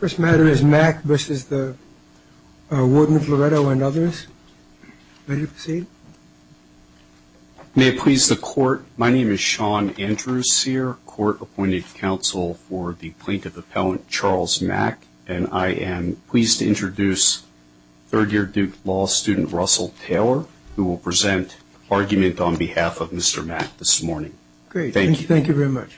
First matter is Mack versus the Warden of Loretto and others. Ready to proceed? May it please the Court, my name is Sean Andrews Sear, Court Appointed Counsel for the Plaintiff Appellant Charles Mack, and I am pleased to introduce third-year Duke Law student Russell Taylor, who will present argument on behalf of Mr. Mack this morning. Great, thank you very much.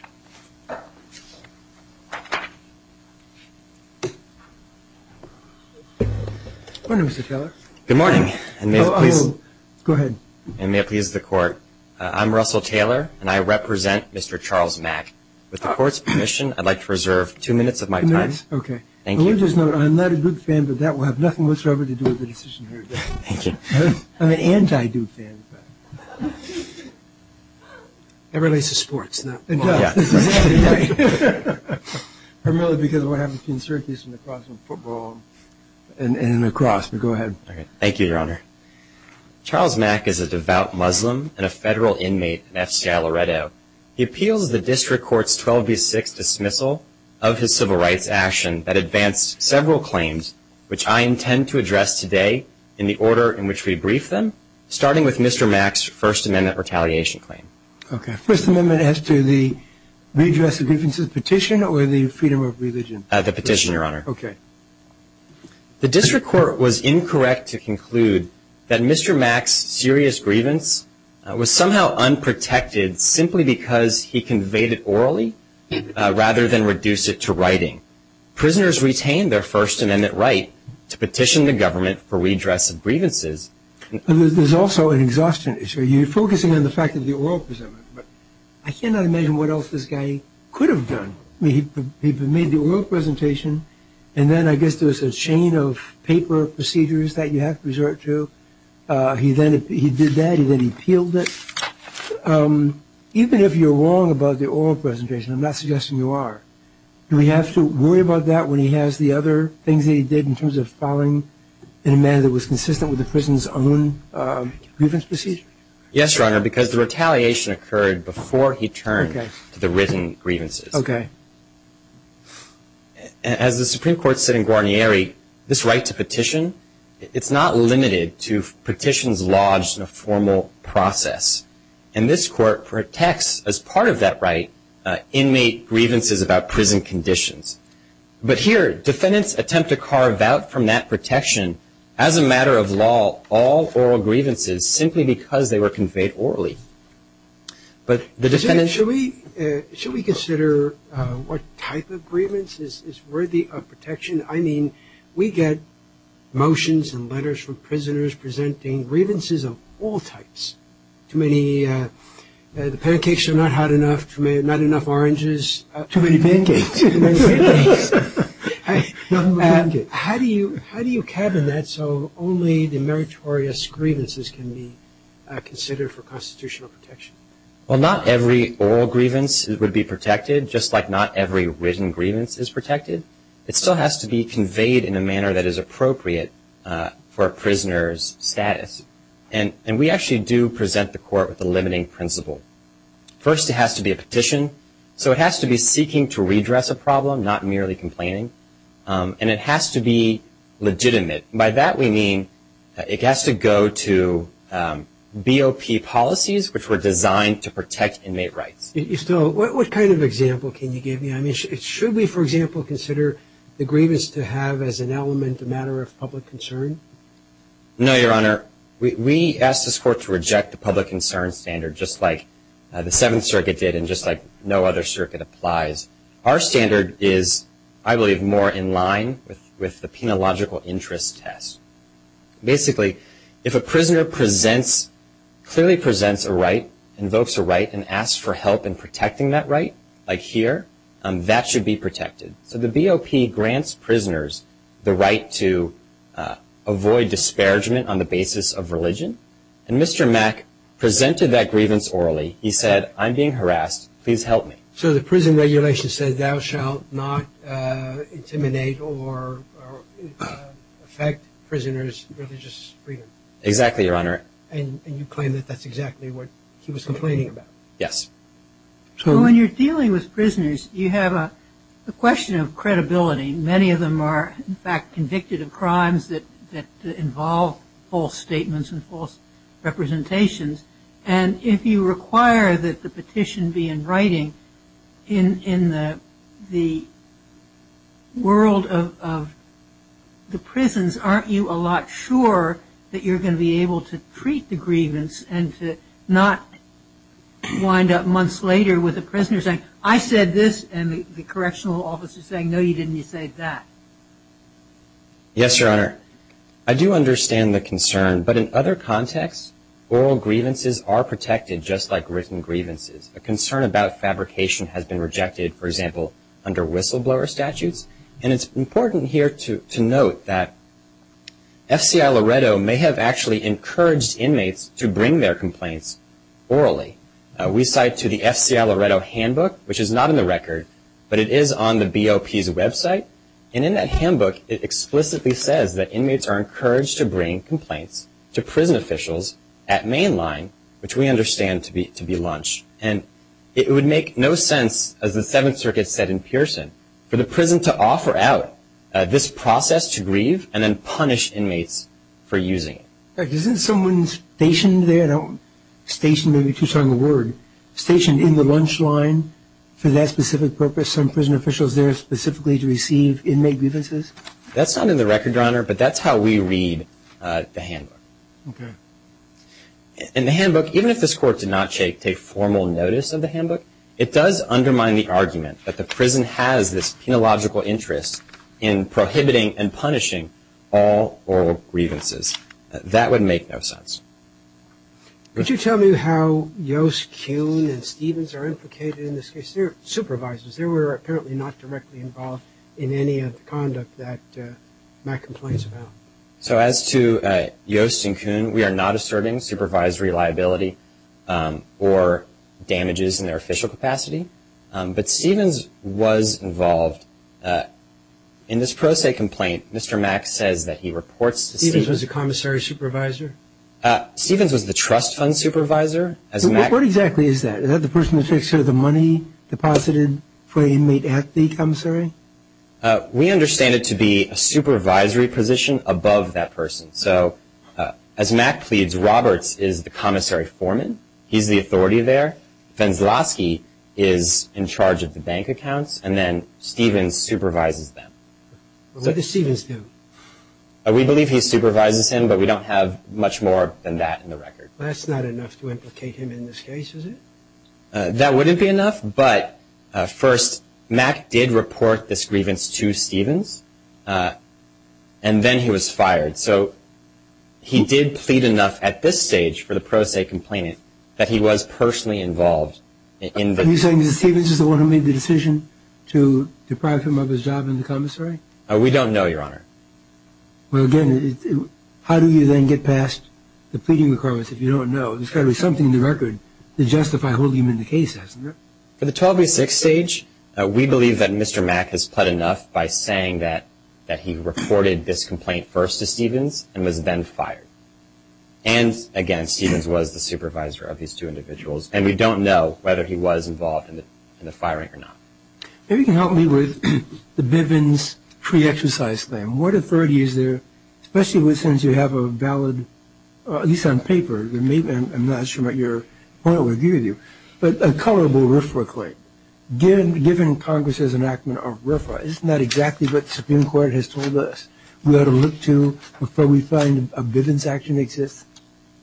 Good morning, Mr. Taylor. Good morning. Oh, go ahead. May it please the Court, I'm Russell Taylor, and I represent Mr. Charles Mack. With the Court's permission, I'd like to reserve two minutes of my time. Okay. Thank you. Let me just note, I'm not a Duke fan, but that will have nothing whatsoever to do with the decision here. Thank you. I'm an anti-Duke fan. It relates to sports, though. It does. Primarily because of what happens between circus and lacrosse and football and lacrosse, but go ahead. Thank you, Your Honor. Charles Mack is a devout Muslim and a federal inmate in F.C.L. Loretto. He appeals the District Court's 12-B-6 dismissal of his civil rights action that advanced several claims, which I intend to address today in the order in which we brief them, starting with Mr. Mack's First Amendment retaliation claim. Okay. First Amendment as to the redress of grievances petition or the freedom of religion petition? The petition, Your Honor. Okay. The District Court was incorrect to conclude that Mr. Mack's serious grievance was somehow unprotected simply because he conveyed it orally rather than reduce it to writing. Prisoners retained their First Amendment right to petition the government for redress of grievances. There's also an exhaustion issue. You're focusing on the fact that the oral presentment, but I cannot imagine what else this guy could have done. I mean, he made the oral presentation, and then I guess there was a chain of paper procedures that you have to resort to. He did that. He then appealed it. Even if you're wrong about the oral presentation, I'm not suggesting you are, but do we have to worry about that when he has the other things that he did in terms of filing in a manner that was consistent with the prison's own grievance procedure? Yes, Your Honor, because the retaliation occurred before he turned to the written grievances. Okay. As the Supreme Court said in Guarnieri, this right to petition, it's not limited to petitions lodged in a formal process. And this Court protects, as part of that right, inmate grievances about prison conditions. But here, defendants attempt to carve out from that protection, as a matter of law, all oral grievances simply because they were conveyed orally. But the defendants ---- Should we consider what type of grievance is worthy of protection? I mean, we get motions and letters from prisoners presenting grievances of all types. Too many pancakes are not hot enough. Not enough oranges. Too many pancakes. How do you cabin that so only the meritorious grievances can be considered for constitutional protection? Well, not every oral grievance would be protected, just like not every written grievance is protected. It still has to be conveyed in a manner that is appropriate for a prisoner's status. And we actually do present the Court with a limiting principle. First, it has to be a petition. So it has to be seeking to redress a problem, not merely complaining. And it has to be legitimate. By that we mean it has to go to BOP policies, which were designed to protect inmate rights. So what kind of example can you give me? I mean, should we, for example, consider the grievance to have as an element a matter of public concern? No, Your Honor. We ask this Court to reject the public concern standard just like the Seventh Circuit did and just like no other circuit applies. Our standard is, I believe, more in line with the Penal Logical Interest Test. Basically, if a prisoner clearly presents a right, invokes a right, and asks for help in protecting that right, like here, that should be protected. So the BOP grants prisoners the right to avoid disparagement on the basis of religion. And Mr. Mack presented that grievance orally. He said, I'm being harassed. Please help me. So the prison regulation says thou shalt not intimidate or affect prisoners' religious freedom. Exactly, Your Honor. And you claim that that's exactly what he was complaining about. Yes. So when you're dealing with prisoners, you have a question of credibility. Many of them are, in fact, convicted of crimes that involve false statements and false representations. And if you require that the petition be in writing, in the world of the prisons, aren't you a lot sure that you're going to be able to treat the grievance and to not wind up months later with a prisoner saying, I said this, and the correctional officer saying, no, you didn't, you said that? Yes, Your Honor. I do understand the concern. But in other contexts, oral grievances are protected just like written grievances. A concern about fabrication has been rejected, for example, under whistleblower statutes. And it's important here to note that F.C.I. Loretto may have actually encouraged inmates to bring their complaints orally. We cite to the F.C.I. Loretto handbook, which is not in the record, but it is on the BOP's website. And in that handbook, it explicitly says that inmates are encouraged to bring complaints to prison officials at mainline, which we understand to be lunch. And it would make no sense, as the Seventh Circuit said in Pearson, for the prison to offer out this process to grieve and then punish inmates for using it. Isn't someone stationed there, stationed may be too strong a word, stationed in the lunch line for that specific purpose, some prison officials there specifically to receive inmate grievances? That's not in the record, Your Honor, but that's how we read the handbook. Okay. In the handbook, even if this Court did not take formal notice of the handbook, it does undermine the argument that the prison has this penological interest in prohibiting and punishing all oral grievances. That would make no sense. Could you tell me how Yost, Kuhn, and Stevens are implicated in this case? They're supervisors. They were apparently not directly involved in any of the conduct that Matt complains about. So as to Yost and Kuhn, we are not asserting supervisory liability or damages in their official capacity. But Stevens was involved. In this pro se complaint, Mr. Mack says that he reports to Stevens. Stevens was a commissary supervisor? Stevens was the trust fund supervisor. What exactly is that? Is that the person who takes care of the money deposited for the inmate at the commissary? We understand it to be a supervisory position above that person. So as Mack pleads, Roberts is the commissary foreman. He's the authority there. Fenselowski is in charge of the bank accounts. And then Stevens supervises them. What does Stevens do? We believe he supervises him, but we don't have much more than that in the record. That's not enough to implicate him in this case, is it? That wouldn't be enough. But first, Mack did report this grievance to Stevens, and then he was fired. So he did plead enough at this stage for the pro se complaint that he was personally involved. Are you saying that Stevens is the one who made the decision to deprive him of his job in the commissary? We don't know, Your Honor. Well, again, how do you then get past the pleading requirements if you don't know? There's got to be something in the record to justify holding him in the case, hasn't there? For the 12-6 stage, we believe that Mr. Mack has pled enough by saying that he reported this complaint first to Stevens and was then fired. And, again, Stevens was the supervisor of these two individuals, and we don't know whether he was involved in the firing or not. Maybe you can help me with the Bivens pre-exercise claim. What authority is there, especially since you have a valid, at least on paper, I'm not sure what your point would be with you, but a colorable RFRA claim? Given Congress's enactment of RFRA, isn't that exactly what the Supreme Court has told us we ought to look to before we find a Bivens action exists?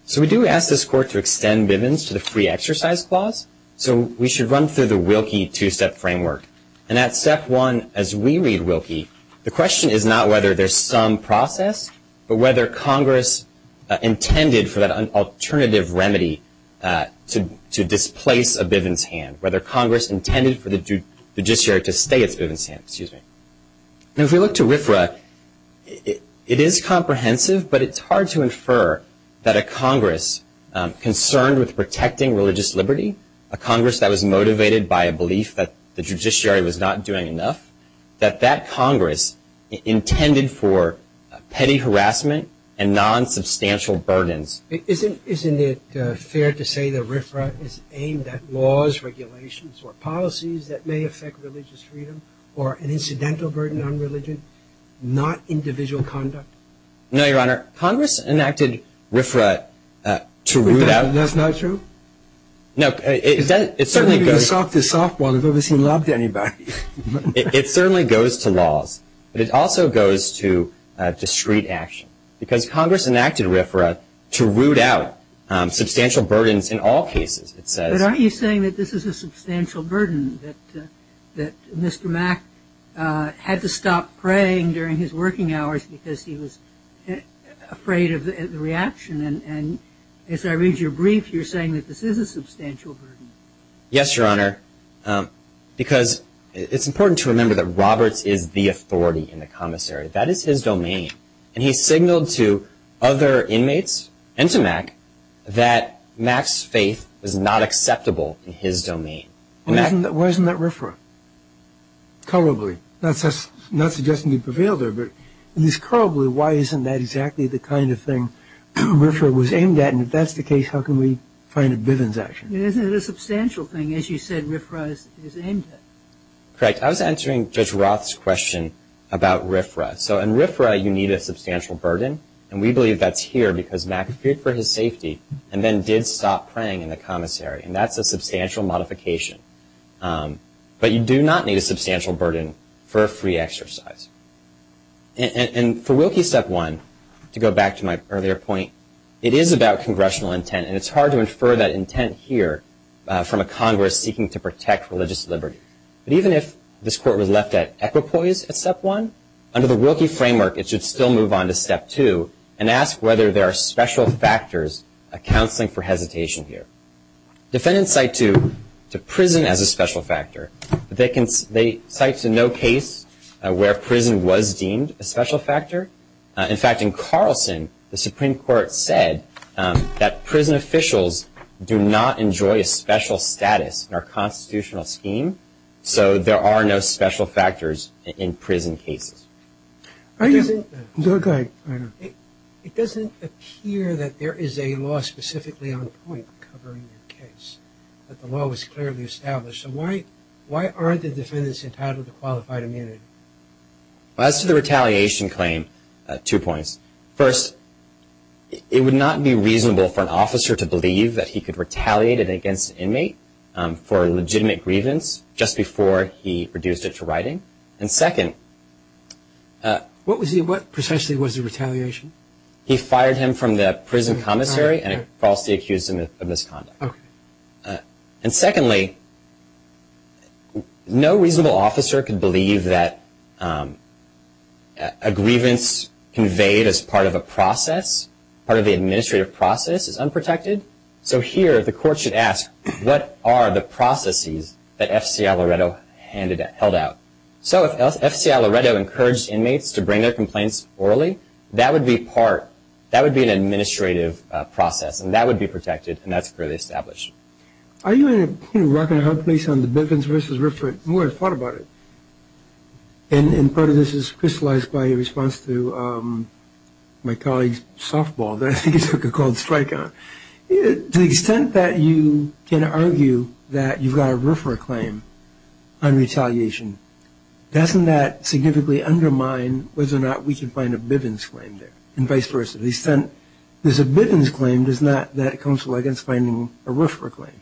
So we do ask this Court to extend Bivens to the free exercise clause, so we should run through the Wilkie two-step framework. And at step one, as we read Wilkie, the question is not whether there's some process, but whether Congress intended for that alternative remedy to displace a Bivens hand, whether Congress intended for the judiciary to stay its Bivens hand. And if we look to RFRA, it is comprehensive, but it's hard to infer that a Congress concerned with protecting religious liberty, a Congress that was motivated by a belief that the judiciary was not doing enough, that that Congress intended for petty harassment and nonsubstantial burdens. Isn't it fair to say that RFRA is aimed at laws, regulations, or policies that may affect religious freedom or an incidental burden on religion, not individual conduct? No, Your Honor. Congress enacted RFRA to root out. That's not true? No. It certainly goes to laws, but it also goes to discrete action, because Congress enacted RFRA to root out substantial burdens in all cases. But aren't you saying that this is a substantial burden, that Mr. Mack had to stop praying during his working hours because he was afraid of the reaction? And as I read your brief, you're saying that this is a substantial burden. Yes, Your Honor, because it's important to remember that Roberts is the authority in the commissary. That is his domain. And he signaled to other inmates and to Mack that Mack's faith was not acceptable in his domain. Why isn't that RFRA? Probably. Not suggesting he prevailed there, but at least probably, why isn't that exactly the kind of thing RFRA was aimed at? And if that's the case, how can we find a Bivens action? Isn't it a substantial thing, as you said, RFRA is aimed at? Correct. I was answering Judge Roth's question about RFRA. So in RFRA, you need a substantial burden, and we believe that's here because Mack feared for his safety and then did stop praying in the commissary, and that's a substantial modification. But you do not need a substantial burden for a free exercise. And for Wilkie, Step 1, to go back to my earlier point, it is about congressional intent, and it's hard to infer that intent here from a Congress seeking to protect religious liberty. But even if this court was left at equipoise at Step 1, under the Wilkie framework, it should still move on to Step 2 and ask whether there are special factors, a counseling for hesitation here. Defendants cite to prison as a special factor, but they cite to no case where prison was deemed a special factor. In fact, in Carlson, the Supreme Court said that prison officials do not enjoy a special status in our constitutional scheme, so there are no special factors in prison cases. Go ahead. It doesn't appear that there is a law specifically on point covering the case, that the law was clearly established. So why aren't the defendants entitled to qualified immunity? As to the retaliation claim, two points. First, it would not be reasonable for an officer to believe that he could retaliate against an inmate for a legitimate grievance just before he reduced it to writing. And second. What was he? What essentially was the retaliation? He fired him from the prison commissary and falsely accused him of misconduct. Okay. And secondly, no reasonable officer can believe that a grievance conveyed as part of a process, part of the administrative process, is unprotected. So here, the court should ask, what are the processes that F.C. Alleredo held out? So if F.C. Alleredo encouraged inmates to bring their complaints orally, that would be part, that would be an administrative process, and that would be protected, and that's clearly established. Are you in a rock-and-a-hard place on the Bivens versus Riffran? I've thought about it. And part of this is crystallized by your response to my colleague's softball that he took a cold strike on. To the extent that you can argue that you've got a Riffra claim on retaliation, doesn't that significantly undermine whether or not we can find a Bivens claim there, and vice versa? The extent there's a Bivens claim does not, that comes with finding a Riffra claim.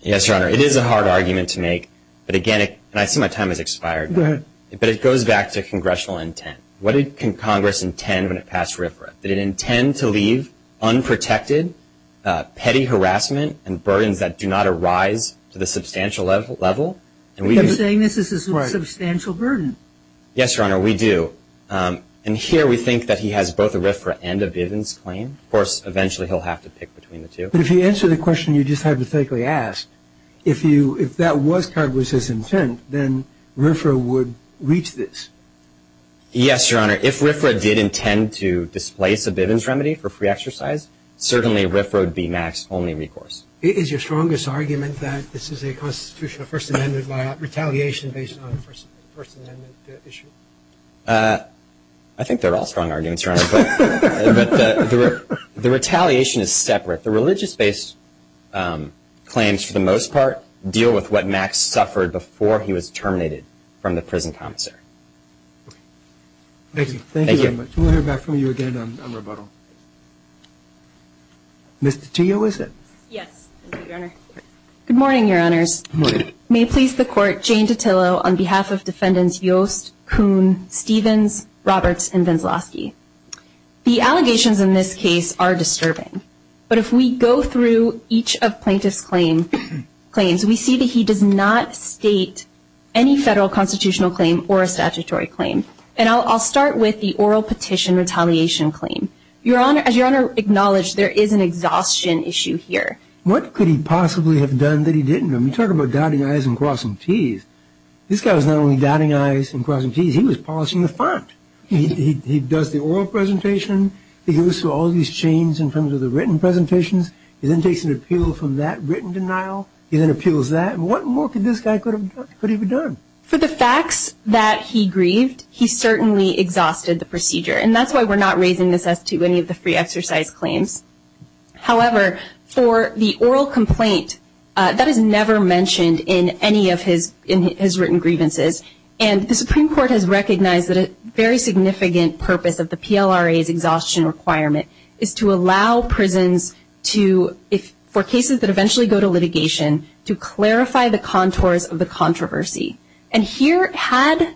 Yes, Your Honor. It is a hard argument to make. But again, and I see my time has expired. Go ahead. But it goes back to congressional intent. What can Congress intend when it passed Riffra? Did it intend to leave unprotected, petty harassment and burdens that do not arise to the substantial level? You're saying this is a substantial burden. Yes, Your Honor, we do. And here we think that he has both a Riffra and a Bivens claim. Of course, eventually he'll have to pick between the two. But if you answer the question you just hypothetically asked, if that was Congress's intent, then Riffra would reach this. Yes, Your Honor, if Riffra did intend to displace a Bivens remedy for free exercise, certainly Riffra would be Max's only recourse. Is your strongest argument that this is a constitutional First Amendment by retaliation based on the First Amendment issue? I think they're all strong arguments, Your Honor. But the retaliation is separate. The religious-based claims, for the most part, deal with what Max suffered before he was terminated from the prison commissary. Thank you. Thank you very much. We'll hear back from you again on rebuttal. Ms. DiTillo, is it? Yes, Your Honor. Good morning, Your Honors. Good morning. May it please the Court, Jane DiTillo, on behalf of Defendants Yost, Kuhn, Stevens, Roberts, and Veseloski. The allegations in this case are disturbing. But if we go through each of Plaintiff's claims, we see that he does not state any federal constitutional claim or a statutory claim. And I'll start with the oral petition retaliation claim. As Your Honor acknowledged, there is an exhaustion issue here. What could he possibly have done that he didn't? I mean, talk about dotting I's and crossing T's. This guy was not only dotting I's and crossing T's, he was polishing the font. He does the oral presentation. He goes through all these chains in terms of the written presentations. He then takes an appeal from that written denial. He then appeals that. What more could this guy have done? For the facts that he grieved, he certainly exhausted the procedure. And that's why we're not raising this as to any of the free exercise claims. However, for the oral complaint, that is never mentioned in any of his written grievances. And the Supreme Court has recognized that a very significant purpose of the PLRA's exhaustion requirement is to allow prisons for cases that eventually go to litigation to clarify the contours of the controversy. And here, had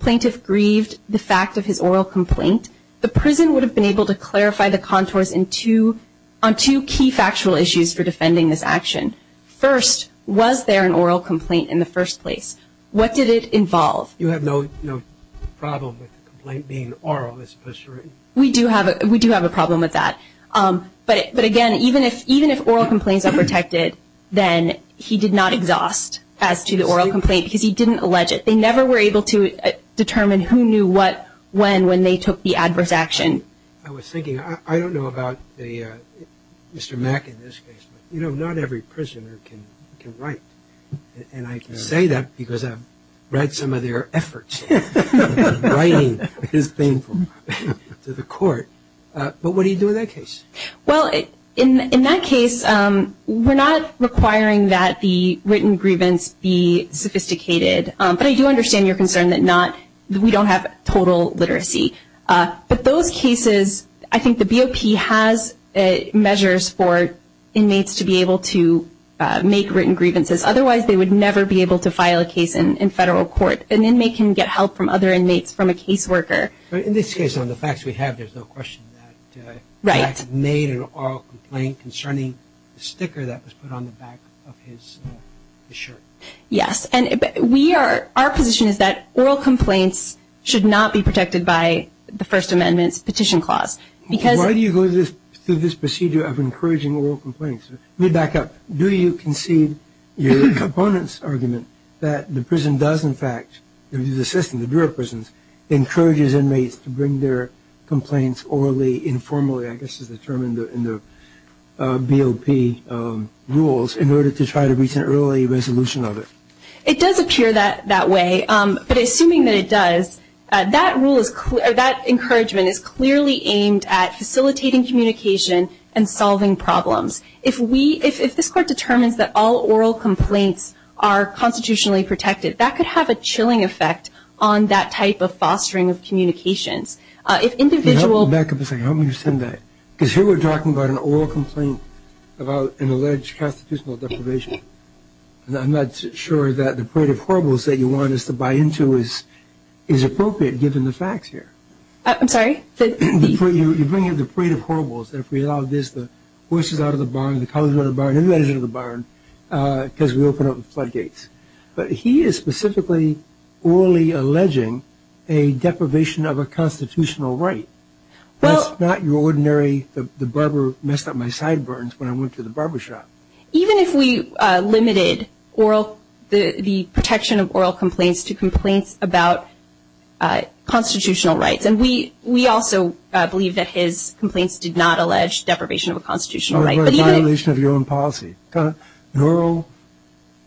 Plaintiff grieved the fact of his oral complaint, the prison would have been able to clarify the contours on two key factual issues for defending this action. First, was there an oral complaint in the first place? What did it involve? You have no problem with the complaint being oral? We do have a problem with that. But, again, even if oral complaints are protected, then he did not exhaust as to the oral complaint because he didn't allege it. They never were able to determine who knew what, when, when they took the adverse action. I was thinking, I don't know about Mr. Mack in this case, but, you know, not every prisoner can write. And I say that because I've read some of their efforts. Writing is painful to the court. But what do you do in that case? Well, in that case, we're not requiring that the written grievance be sophisticated. But I do understand your concern that we don't have total literacy. But those cases, I think the BOP has measures for inmates to be able to make written grievances. Otherwise, they would never be able to file a case in federal court. An inmate can get help from other inmates from a caseworker. In this case, on the facts we have, there's no question that Mack made an oral complaint concerning the sticker that was put on the back of his shirt. Yes. And we are, our position is that oral complaints should not be protected by the First Amendment's petition clause. Why do you go through this procedure of encouraging oral complaints? Let me back up. Do you concede your opponent's argument that the prison does, in fact, the system, the Bureau of Prisons, encourages inmates to bring their complaints orally, informally, I guess is the term in the BOP rules, in order to try to reach an early resolution of it? It does appear that way. But assuming that it does, that rule is clear, that encouragement is clearly aimed at facilitating communication and solving problems. If we, if this Court determines that all oral complaints are constitutionally protected, that could have a chilling effect on that type of fostering of communications. If individual- Because here we're talking about an oral complaint about an alleged constitutional deprivation. I'm not sure that the parade of horribles that you want us to buy into is appropriate, given the facts here. I'm sorry? You bring in the parade of horribles, and if we allow this, the horses out of the barn, the cows are out of the barn, everybody's out of the barn, because we open up the floodgates. But he is specifically orally alleging a deprivation of a constitutional right. That's not your ordinary, the barber messed up my sideburns when I went to the barbershop. Even if we limited the protection of oral complaints to complaints about constitutional rights, and we also believe that his complaints did not allege deprivation of a constitutional right. Or a violation of your own policy. An oral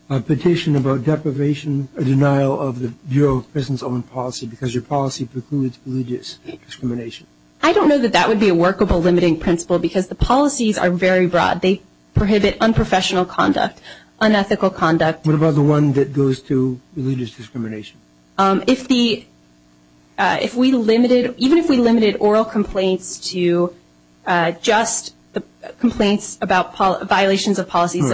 petition about deprivation, a denial of the Bureau of Prison's own policy, because your policy precludes religious discrimination. I don't know that that would be a workable limiting principle, because the policies are very broad. They prohibit unprofessional conduct, unethical conduct. What about the one that goes to religious discrimination? If we limited, even if we limited oral complaints to just complaints about violations of policies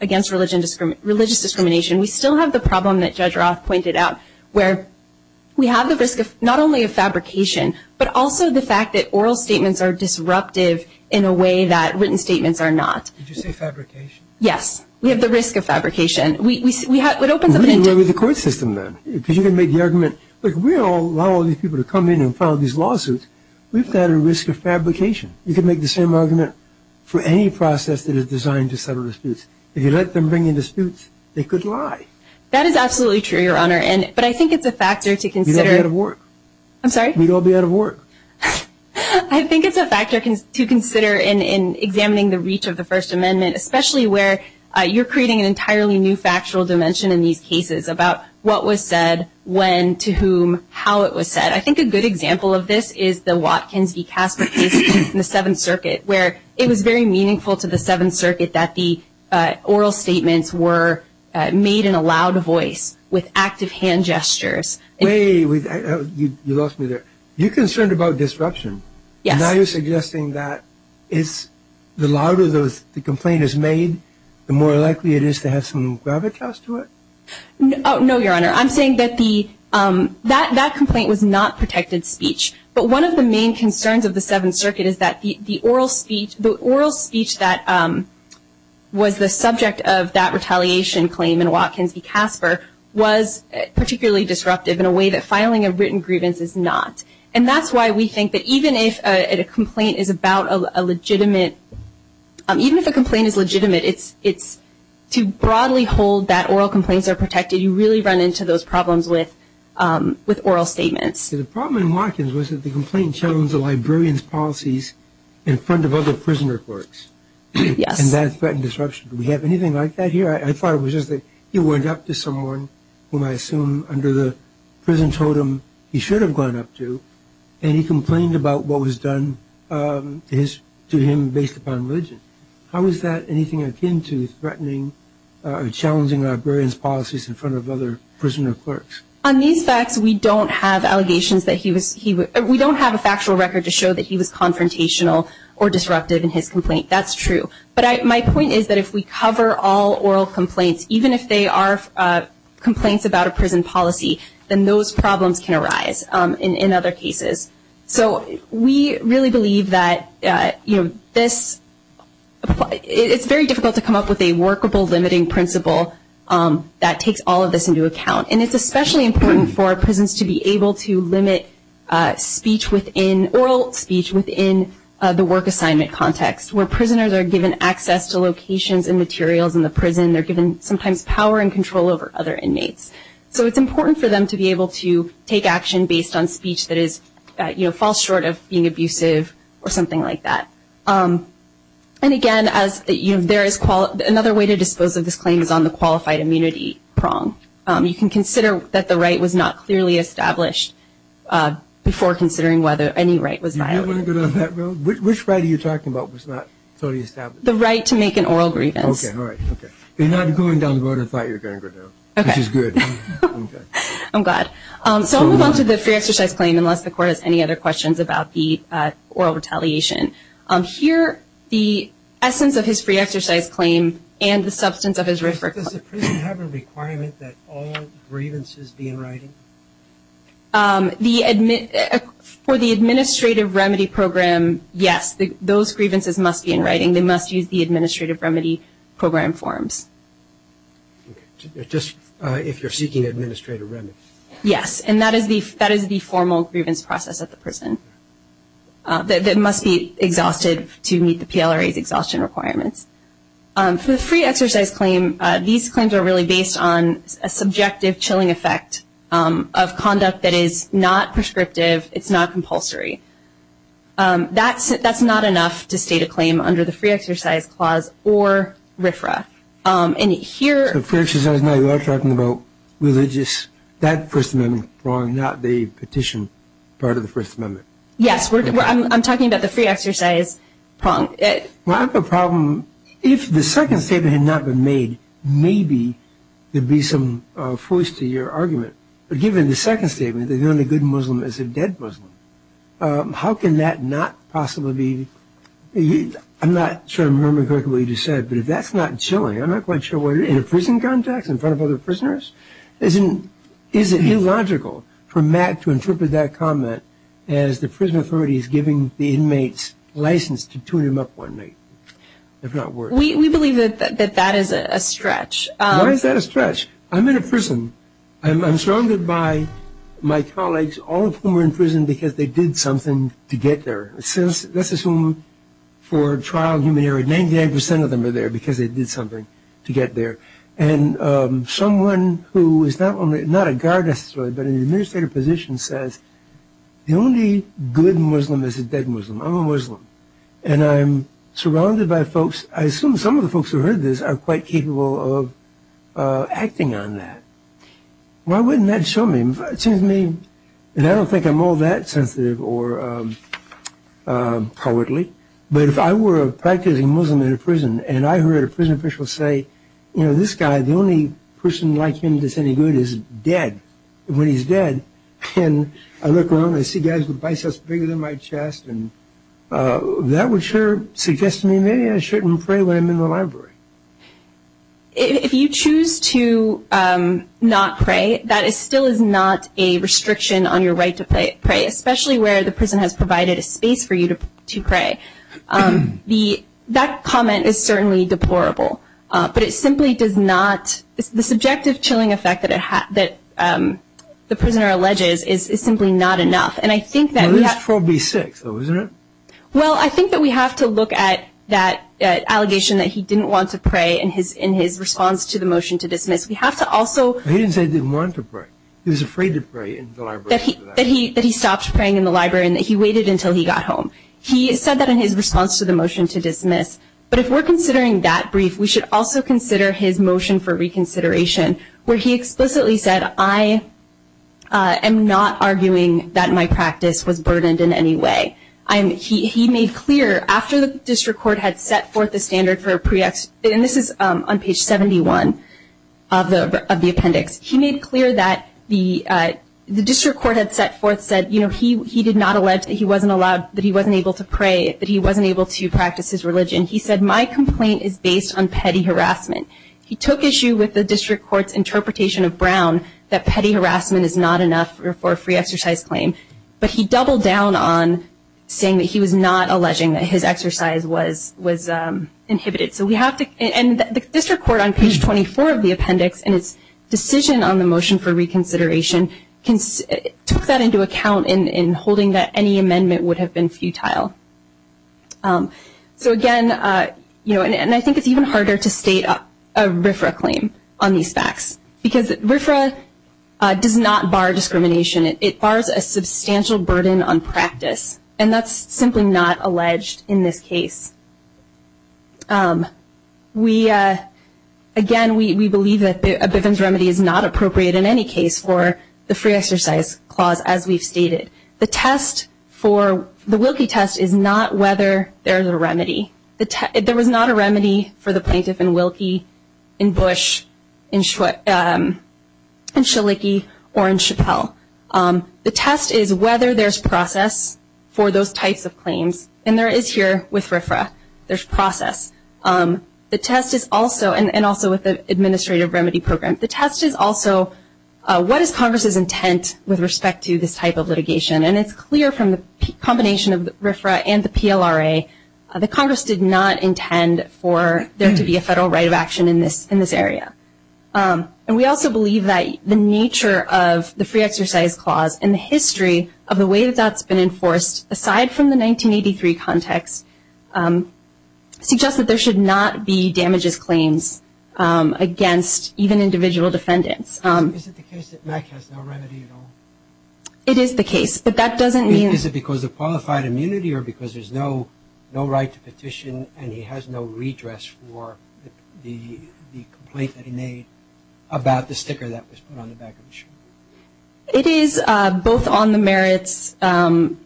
against religious discrimination, we still have the problem that Judge Roth pointed out, where we have the risk of not only a fabrication, but also the fact that oral statements are disruptive in a way that written statements are not. Did you say fabrication? Yes. We have the risk of fabrication. It opens up an intent. What do you do with the court system, then? Because you can make the argument, look, we don't allow all these people to come in and file these lawsuits. We've got a risk of fabrication. You can make the same argument for any process that is designed to settle disputes. If you let them bring in disputes, they could lie. That is absolutely true, Your Honor, but I think it's a factor to consider. We'd all be out of work. I'm sorry? We'd all be out of work. I think it's a factor to consider in examining the reach of the First Amendment, especially where you're creating an entirely new factual dimension in these cases about what was said, when, to whom, how it was said. I think a good example of this is the Watkins v. Casper case in the Seventh Circuit, where it was very meaningful to the Seventh Circuit that the oral statements were made in a loud voice with active hand gestures. Wait. You lost me there. You're concerned about disruption. Yes. Now you're suggesting that the louder the complaint is made, the more likely it is to have some gravitas to it? No, Your Honor. I'm saying that that complaint was not protected speech, but one of the main concerns of the Seventh Circuit is that the oral speech that was the subject of that retaliation claim in Watkins v. Casper was particularly disruptive in a way that filing a written grievance is not. And that's why we think that even if a complaint is legitimate, it's to broadly hold that oral complaints are protected. You really run into those problems with oral statements. The problem in Watkins was that the complaint challenged the librarian's policies in front of other prisoner clerks. Yes. And that threatened disruption. Do we have anything like that here? I thought it was just that he went up to someone whom I assume under the prison totem he should have gone up to, and he complained about what was done to him based upon religion. How is that anything akin to threatening or challenging a librarian's policies in front of other prisoner clerks? On these facts, we don't have allegations that he was, we don't have a factual record to show that he was confrontational or disruptive in his complaint. That's true. But my point is that if we cover all oral complaints, even if they are complaints about a prison policy, then those problems can arise in other cases. So we really believe that this, it's very difficult to come up with a workable limiting principle that takes all of this into account. And it's especially important for prisons to be able to limit speech within, oral speech within the work assignment context, where prisoners are given access to locations and materials in the prison. They're given sometimes power and control over other inmates. So it's important for them to be able to take action based on speech that falls short of being abusive or something like that. And, again, another way to dispose of this claim is on the qualified immunity prong. You can consider that the right was not clearly established before considering whether any right was violated. You don't want to go down that road? Which right are you talking about was not fully established? The right to make an oral grievance. Okay, all right. Okay. You're not going down the road and thought you were going to go down, which is good. Okay. I'm glad. So I'll move on to the free exercise claim, unless the Court has any other questions about the oral retaliation. Here, the essence of his free exercise claim and the substance of his referral claim. Does the prison have a requirement that all grievances be in writing? For the administrative remedy program, yes, those grievances must be in writing. They must use the administrative remedy program forms. Just if you're seeking administrative remedy. Yes, and that is the formal grievance process at the prison. It must be exhausted to meet the PLRA's exhaustion requirements. For the free exercise claim, these claims are really based on a subjective chilling effect of conduct that is not prescriptive. It's not compulsory. That's not enough to state a claim under the free exercise clause or RFRA. And here The free exercise, now you are talking about religious, that First Amendment prong, not the petition part of the First Amendment. Yes, I'm talking about the free exercise prong. Well, I have a problem. If the second statement had not been made, maybe there'd be some force to your argument. But given the second statement, that the only good Muslim is a dead Muslim, how can that not possibly be? I'm not sure I remember correctly what you just said, but if that's not chilling, I'm not quite sure why you're in a prison context in front of other prisoners, Is it illogical for Matt to interpret that comment as the prison authority is giving the inmates license to tune them up one night? If not worse. We believe that that is a stretch. Why is that a stretch? I'm in a prison. I'm surrounded by my colleagues, all of whom are in prison because they did something to get there. Let's assume for trial human error, 99% of them are there because they did something to get there. And someone who is not a guard necessarily but in an administrative position says, the only good Muslim is a dead Muslim. I'm a Muslim. And I'm surrounded by folks. I assume some of the folks who heard this are quite capable of acting on that. Why wouldn't that show me? It seems to me that I don't think I'm all that sensitive or cowardly. But if I were a practicing Muslim in a prison and I heard a prison official say, you know, this guy, the only person like him that's any good is dead, when he's dead, and I look around and I see guys with biceps bigger than my chest, that would sure suggest to me maybe I shouldn't pray when I'm in the library. If you choose to not pray, that still is not a restriction on your right to pray, especially where the prison has provided a space for you to pray. That comment is certainly deplorable. But it simply does not the subjective chilling effect that the prisoner alleges is simply not enough. And I think that we have to look at that allegation that he didn't want to pray in his response to the motion to dismiss. He didn't say he didn't want to pray. He was afraid to pray in the library. That he stopped praying in the library and that he waited until he got home. He said that in his response to the motion to dismiss. But if we're considering that brief, we should also consider his motion for reconsideration, where he explicitly said, I am not arguing that my practice was burdened in any way. He made clear after the district court had set forth the standard for pre-ex- And this is on page 71 of the appendix. He made clear that the district court had set forth, said, you know, he did not allege that he wasn't allowed, that he wasn't able to pray, that he wasn't able to practice his religion. He said, my complaint is based on petty harassment. He took issue with the district court's interpretation of Brown, that petty harassment is not enough for a free exercise claim. But he doubled down on saying that he was not alleging that his exercise was inhibited. So we have to, and the district court on page 24 of the appendix and its decision on the motion for reconsideration took that into account in holding that any amendment would have been futile. So again, you know, and I think it's even harder to state a RFRA claim on these facts. Because RFRA does not bar discrimination. It bars a substantial burden on practice. And that's simply not alleged in this case. We, again, we believe that a Bivens remedy is not appropriate in any case for the free exercise clause as we've stated. The test for, the Wilkie test is not whether there is a remedy. There was not a remedy for the plaintiff in Wilkie, in Bush, in Shaliki, or in Chappelle. The test is whether there's process for those types of claims. And there is here with RFRA. There's process. The test is also, and also with the administrative remedy program, the test is also what is Congress's intent with respect to this type of litigation. And it's clear from the combination of RFRA and the PLRA that Congress did not intend for there to be a federal right of action in this area. And we also believe that the nature of the free exercise clause and the history of the way that that's been enforced, aside from the 1983 context, suggests that there should not be damages claims against even individual defendants. Is it the case that Mack has no remedy at all? It is the case, but that doesn't mean. Is it because of qualified immunity or because there's no right to petition and he has no redress for the complaint that he made about the sticker that was put on the back of the shirt? It is both on the merits and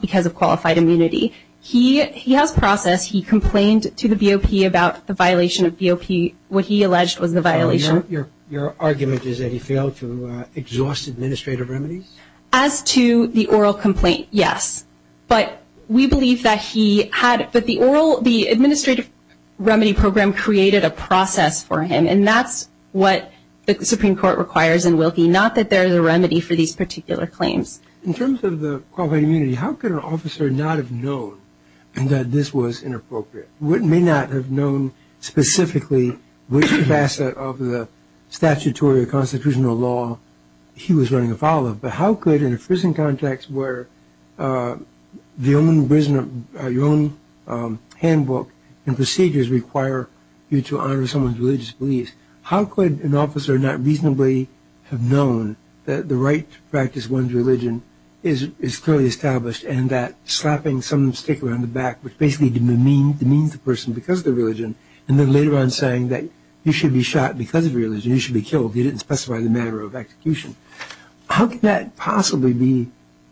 because of qualified immunity. He has process. He complained to the BOP about the violation of BOP. What he alleged was the violation. So your argument is that he failed to exhaust administrative remedies? As to the oral complaint, yes. But we believe that he had the administrative remedy program created a process for him, and that's what the Supreme Court requires in Wilkie, not that there is a remedy for these particular claims. In terms of the qualified immunity, how could an officer not have known that this was inappropriate? He may not have known specifically which facet of the statutory or constitutional law he was running afoul of, but how could, in a prison context where your own handbook and procedures require you to honor someone's religious beliefs, how could an officer not reasonably have known that the right to practice one's religion is clearly established and that slapping some sticker on the back, which basically demeans the person because of their religion, and then later on saying that you should be shot because of your religion, you should be killed, you didn't specify the manner of execution. How could that possibly be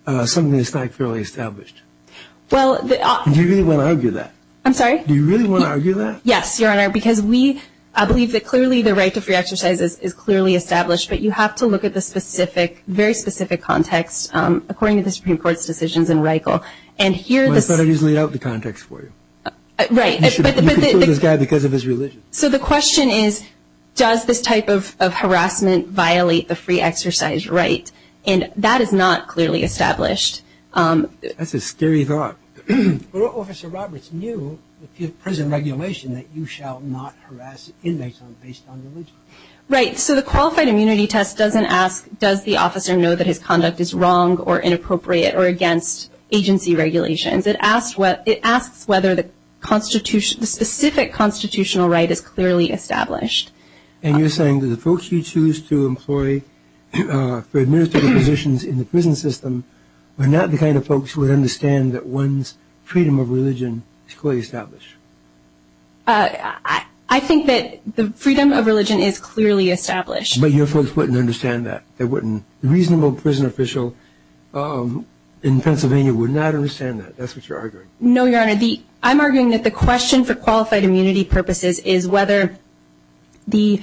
something that's not clearly established? Do you really want to argue that? I'm sorry? Do you really want to argue that? Yes, Your Honor, because we believe that clearly the right to free exercise is clearly established, but you have to look at the specific, very specific context, according to the Supreme Court's decisions in Reichel. But I thought I just laid out the context for you. Right. You conclude this guy because of his religion. So the question is, does this type of harassment violate the free exercise right? And that is not clearly established. That's a scary thought. But Officer Roberts knew, with prison regulation, that you shall not harass inmates based on religion. Right. So the qualified immunity test doesn't ask, does the officer know that his conduct is wrong or inappropriate or against agency regulations. It asks whether the specific constitutional right is clearly established. And you're saying that the folks you choose to employ for administrative positions in the prison system are not the kind of folks who would understand that one's freedom of religion is clearly established. I think that the freedom of religion is clearly established. But your folks wouldn't understand that. A reasonable prison official in Pennsylvania would not understand that. That's what you're arguing. No, Your Honor. I'm arguing that the question for qualified immunity purposes is whether the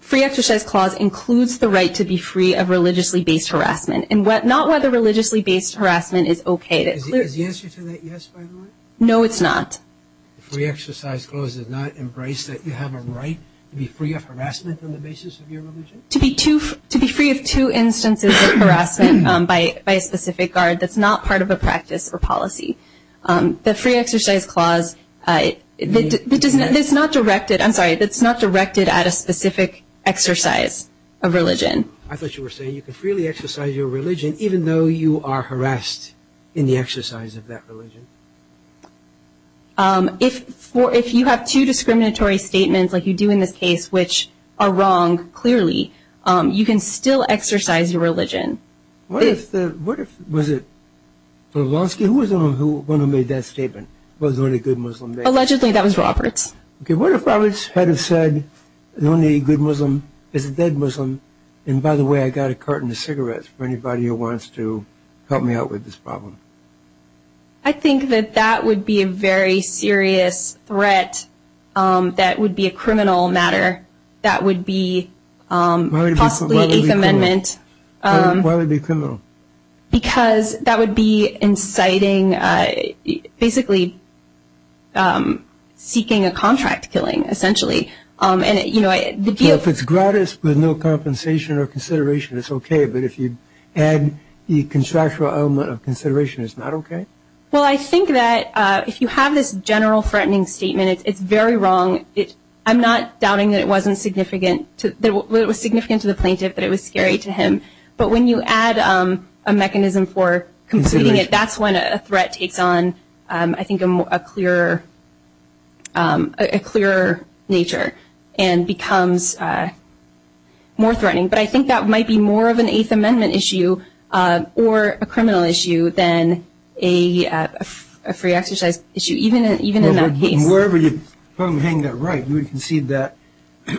free exercise clause includes the right to be free of religiously-based harassment, and not whether religiously-based harassment is okay. Is the answer to that yes, by the way? No, it's not. The free exercise clause does not embrace that you have a right to be free of harassment on the basis of your religion? To be free of two instances of harassment by a specific guard, that's not part of a practice or policy. The free exercise clause, it's not directed at a specific exercise of religion. I thought you were saying you can freely exercise your religion even though you are harassed in the exercise of that religion. If you have two discriminatory statements, like you do in this case, which are wrong, clearly, you can still exercise your religion. What if the, what if, was it Polanski? Who was the one who made that statement, was the only good Muslim? Allegedly, that was Roberts. Okay, what if Roberts had said, the only good Muslim is a dead Muslim, and by the way, I got a carton of cigarettes for anybody who wants to help me out with this problem? I think that that would be a very serious threat. That would be a criminal matter. That would be possibly an Eighth Amendment. Why would it be criminal? Because that would be inciting, basically seeking a contract killing, essentially. If it's gratis with no compensation or consideration, it's okay, but if you add the contractual element of consideration, it's not okay? Well, I think that if you have this general threatening statement, it's very wrong. I'm not doubting that it was significant to the plaintiff, that it was scary to him, but when you add a mechanism for completing it, that's when a threat takes on, I think, a clearer nature and becomes more threatening. But I think that might be more of an Eighth Amendment issue or a criminal issue than a free exercise issue, even in that case. Wherever you hang that right, you would concede that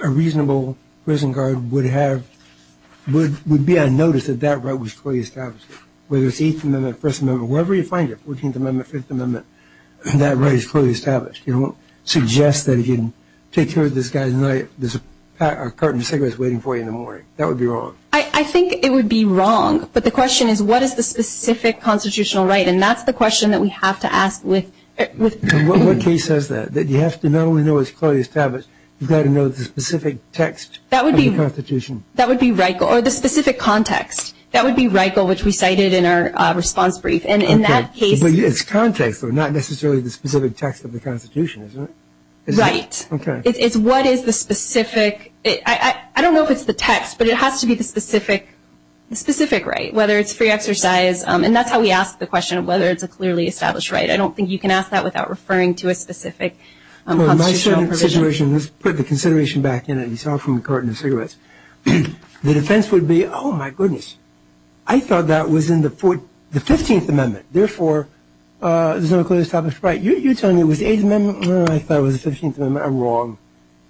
a reasonable prison guard would be on notice that that right was clearly established, whether it's Eighth Amendment, First Amendment, wherever you find it, Fourteenth Amendment, Fifth Amendment, that right is clearly established. You don't suggest that if you take care of this guy tonight, there's a carton of cigarettes waiting for you in the morning. That would be wrong. I think it would be wrong, but the question is, what is the specific constitutional right? And that's the question that we have to ask. What case says that, that you have to not only know it's clearly established, you've got to know the specific text of the Constitution? That would be RICO, or the specific context. That would be RICO, which we cited in our response brief. But it's context, though, not necessarily the specific text of the Constitution, isn't it? Right. It's what is the specific. I don't know if it's the text, but it has to be the specific right, whether it's free exercise. And that's how we ask the question of whether it's a clearly established right. I don't think you can ask that without referring to a specific constitutional provision. Let's put the consideration back in, as you saw from the carton of cigarettes. The defense would be, oh, my goodness. I thought that was in the 15th Amendment. Therefore, there's no clearly established right. You're telling me it was the 8th Amendment. I thought it was the 15th Amendment. I'm wrong.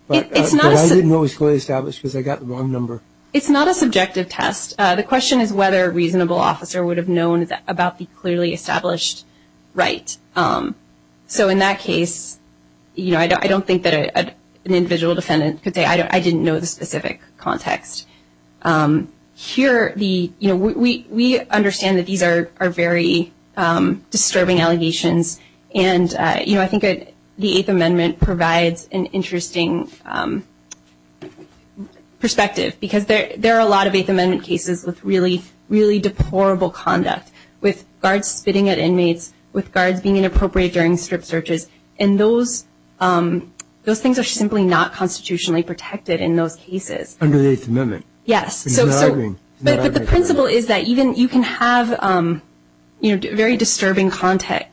But I didn't know it was clearly established because I got the wrong number. It's not a subjective test. The question is whether a reasonable officer would have known about the clearly established right. So in that case, you know, I don't think that an individual defendant could say, I didn't know the specific context. Here, you know, we understand that these are very disturbing allegations. And, you know, I think the 8th Amendment provides an interesting perspective because there are a lot of 8th Amendment cases with really, really deplorable conduct, with guards spitting at inmates, with guards being inappropriate during strip searches. And those things are simply not constitutionally protected in those cases. Under the 8th Amendment. Yes. But the principle is that you can have, you know, very disturbing conduct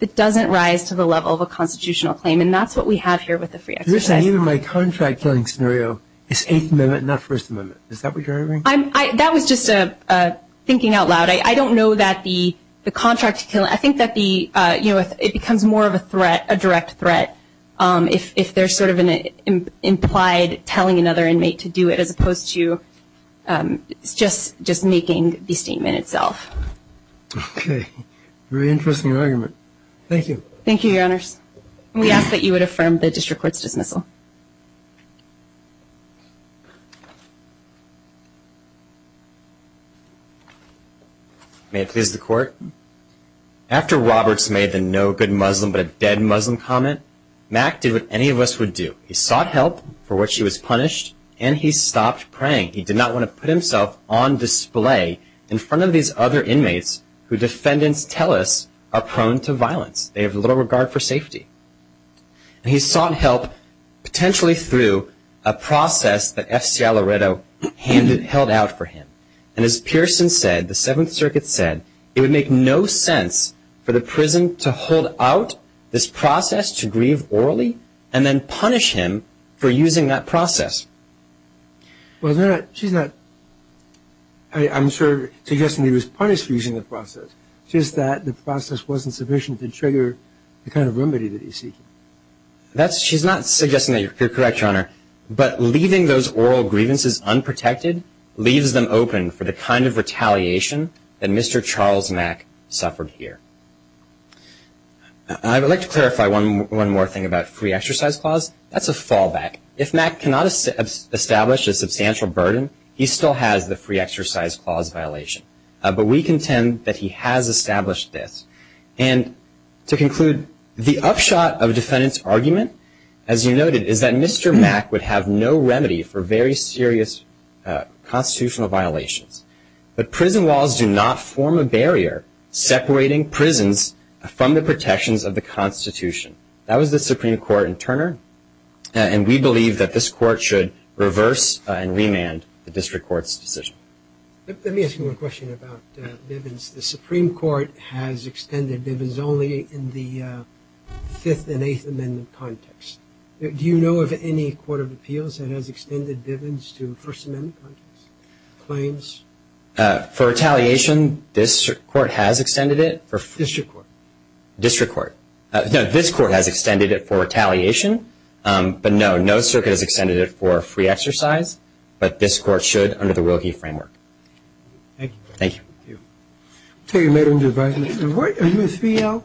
that doesn't rise to the level of a constitutional claim. And that's what we have here with the free exercise. You're saying even my contract killing scenario is 8th Amendment, not First Amendment. Is that what you're arguing? That was just thinking out loud. I don't know that the contract killing, I think that the, you know, it becomes more of a threat, a direct threat, if there's sort of an implied telling another inmate to do it, as opposed to just making the statement itself. Okay. Very interesting argument. Thank you. Thank you, Your Honors. We ask that you would affirm the District Court's dismissal. May it please the Court. After Roberts made the no good Muslim but a dead Muslim comment, Mack did what any of us would do. He sought help for which he was punished, and he stopped praying. He did not want to put himself on display in front of these other inmates who defendants tell us are prone to violence. They have little regard for safety. And he sought help potentially through a process that F.C. Alleredo held out for him. And as Pearson said, the Seventh Circuit said, it would make no sense for the prison to hold out this process to grieve orally and then punish him for using that process. Well, she's not suggesting he was punished for using the process. She says that the process wasn't sufficient to trigger the kind of remedy that he's seeking. You're correct, Your Honor. But leaving those oral grievances unprotected leaves them open for the kind of retaliation that Mr. Charles Mack suffered here. I would like to clarify one more thing about free exercise clause. That's a fallback. If Mack cannot establish a substantial burden, he still has the free exercise clause violation. But we contend that he has established this. And to conclude, the upshot of defendant's argument, as you noted, is that Mr. Mack would have no remedy for very serious constitutional violations. But prison walls do not form a barrier separating prisons from the protections of the Constitution. That was the Supreme Court in Turner, and we believe that this Court should reverse and remand the district court's decision. Let me ask you one question about Bivens. The Supreme Court has extended Bivens only in the Fifth and Eighth Amendment context. Do you know of any court of appeals that has extended Bivens to First Amendment context? Claims? For retaliation, this Court has extended it. District court. District court. No, this Court has extended it for retaliation. But, no, no circuit has extended it for free exercise. But this Court should under the Wilkie framework. Thank you. Thank you. Thank you.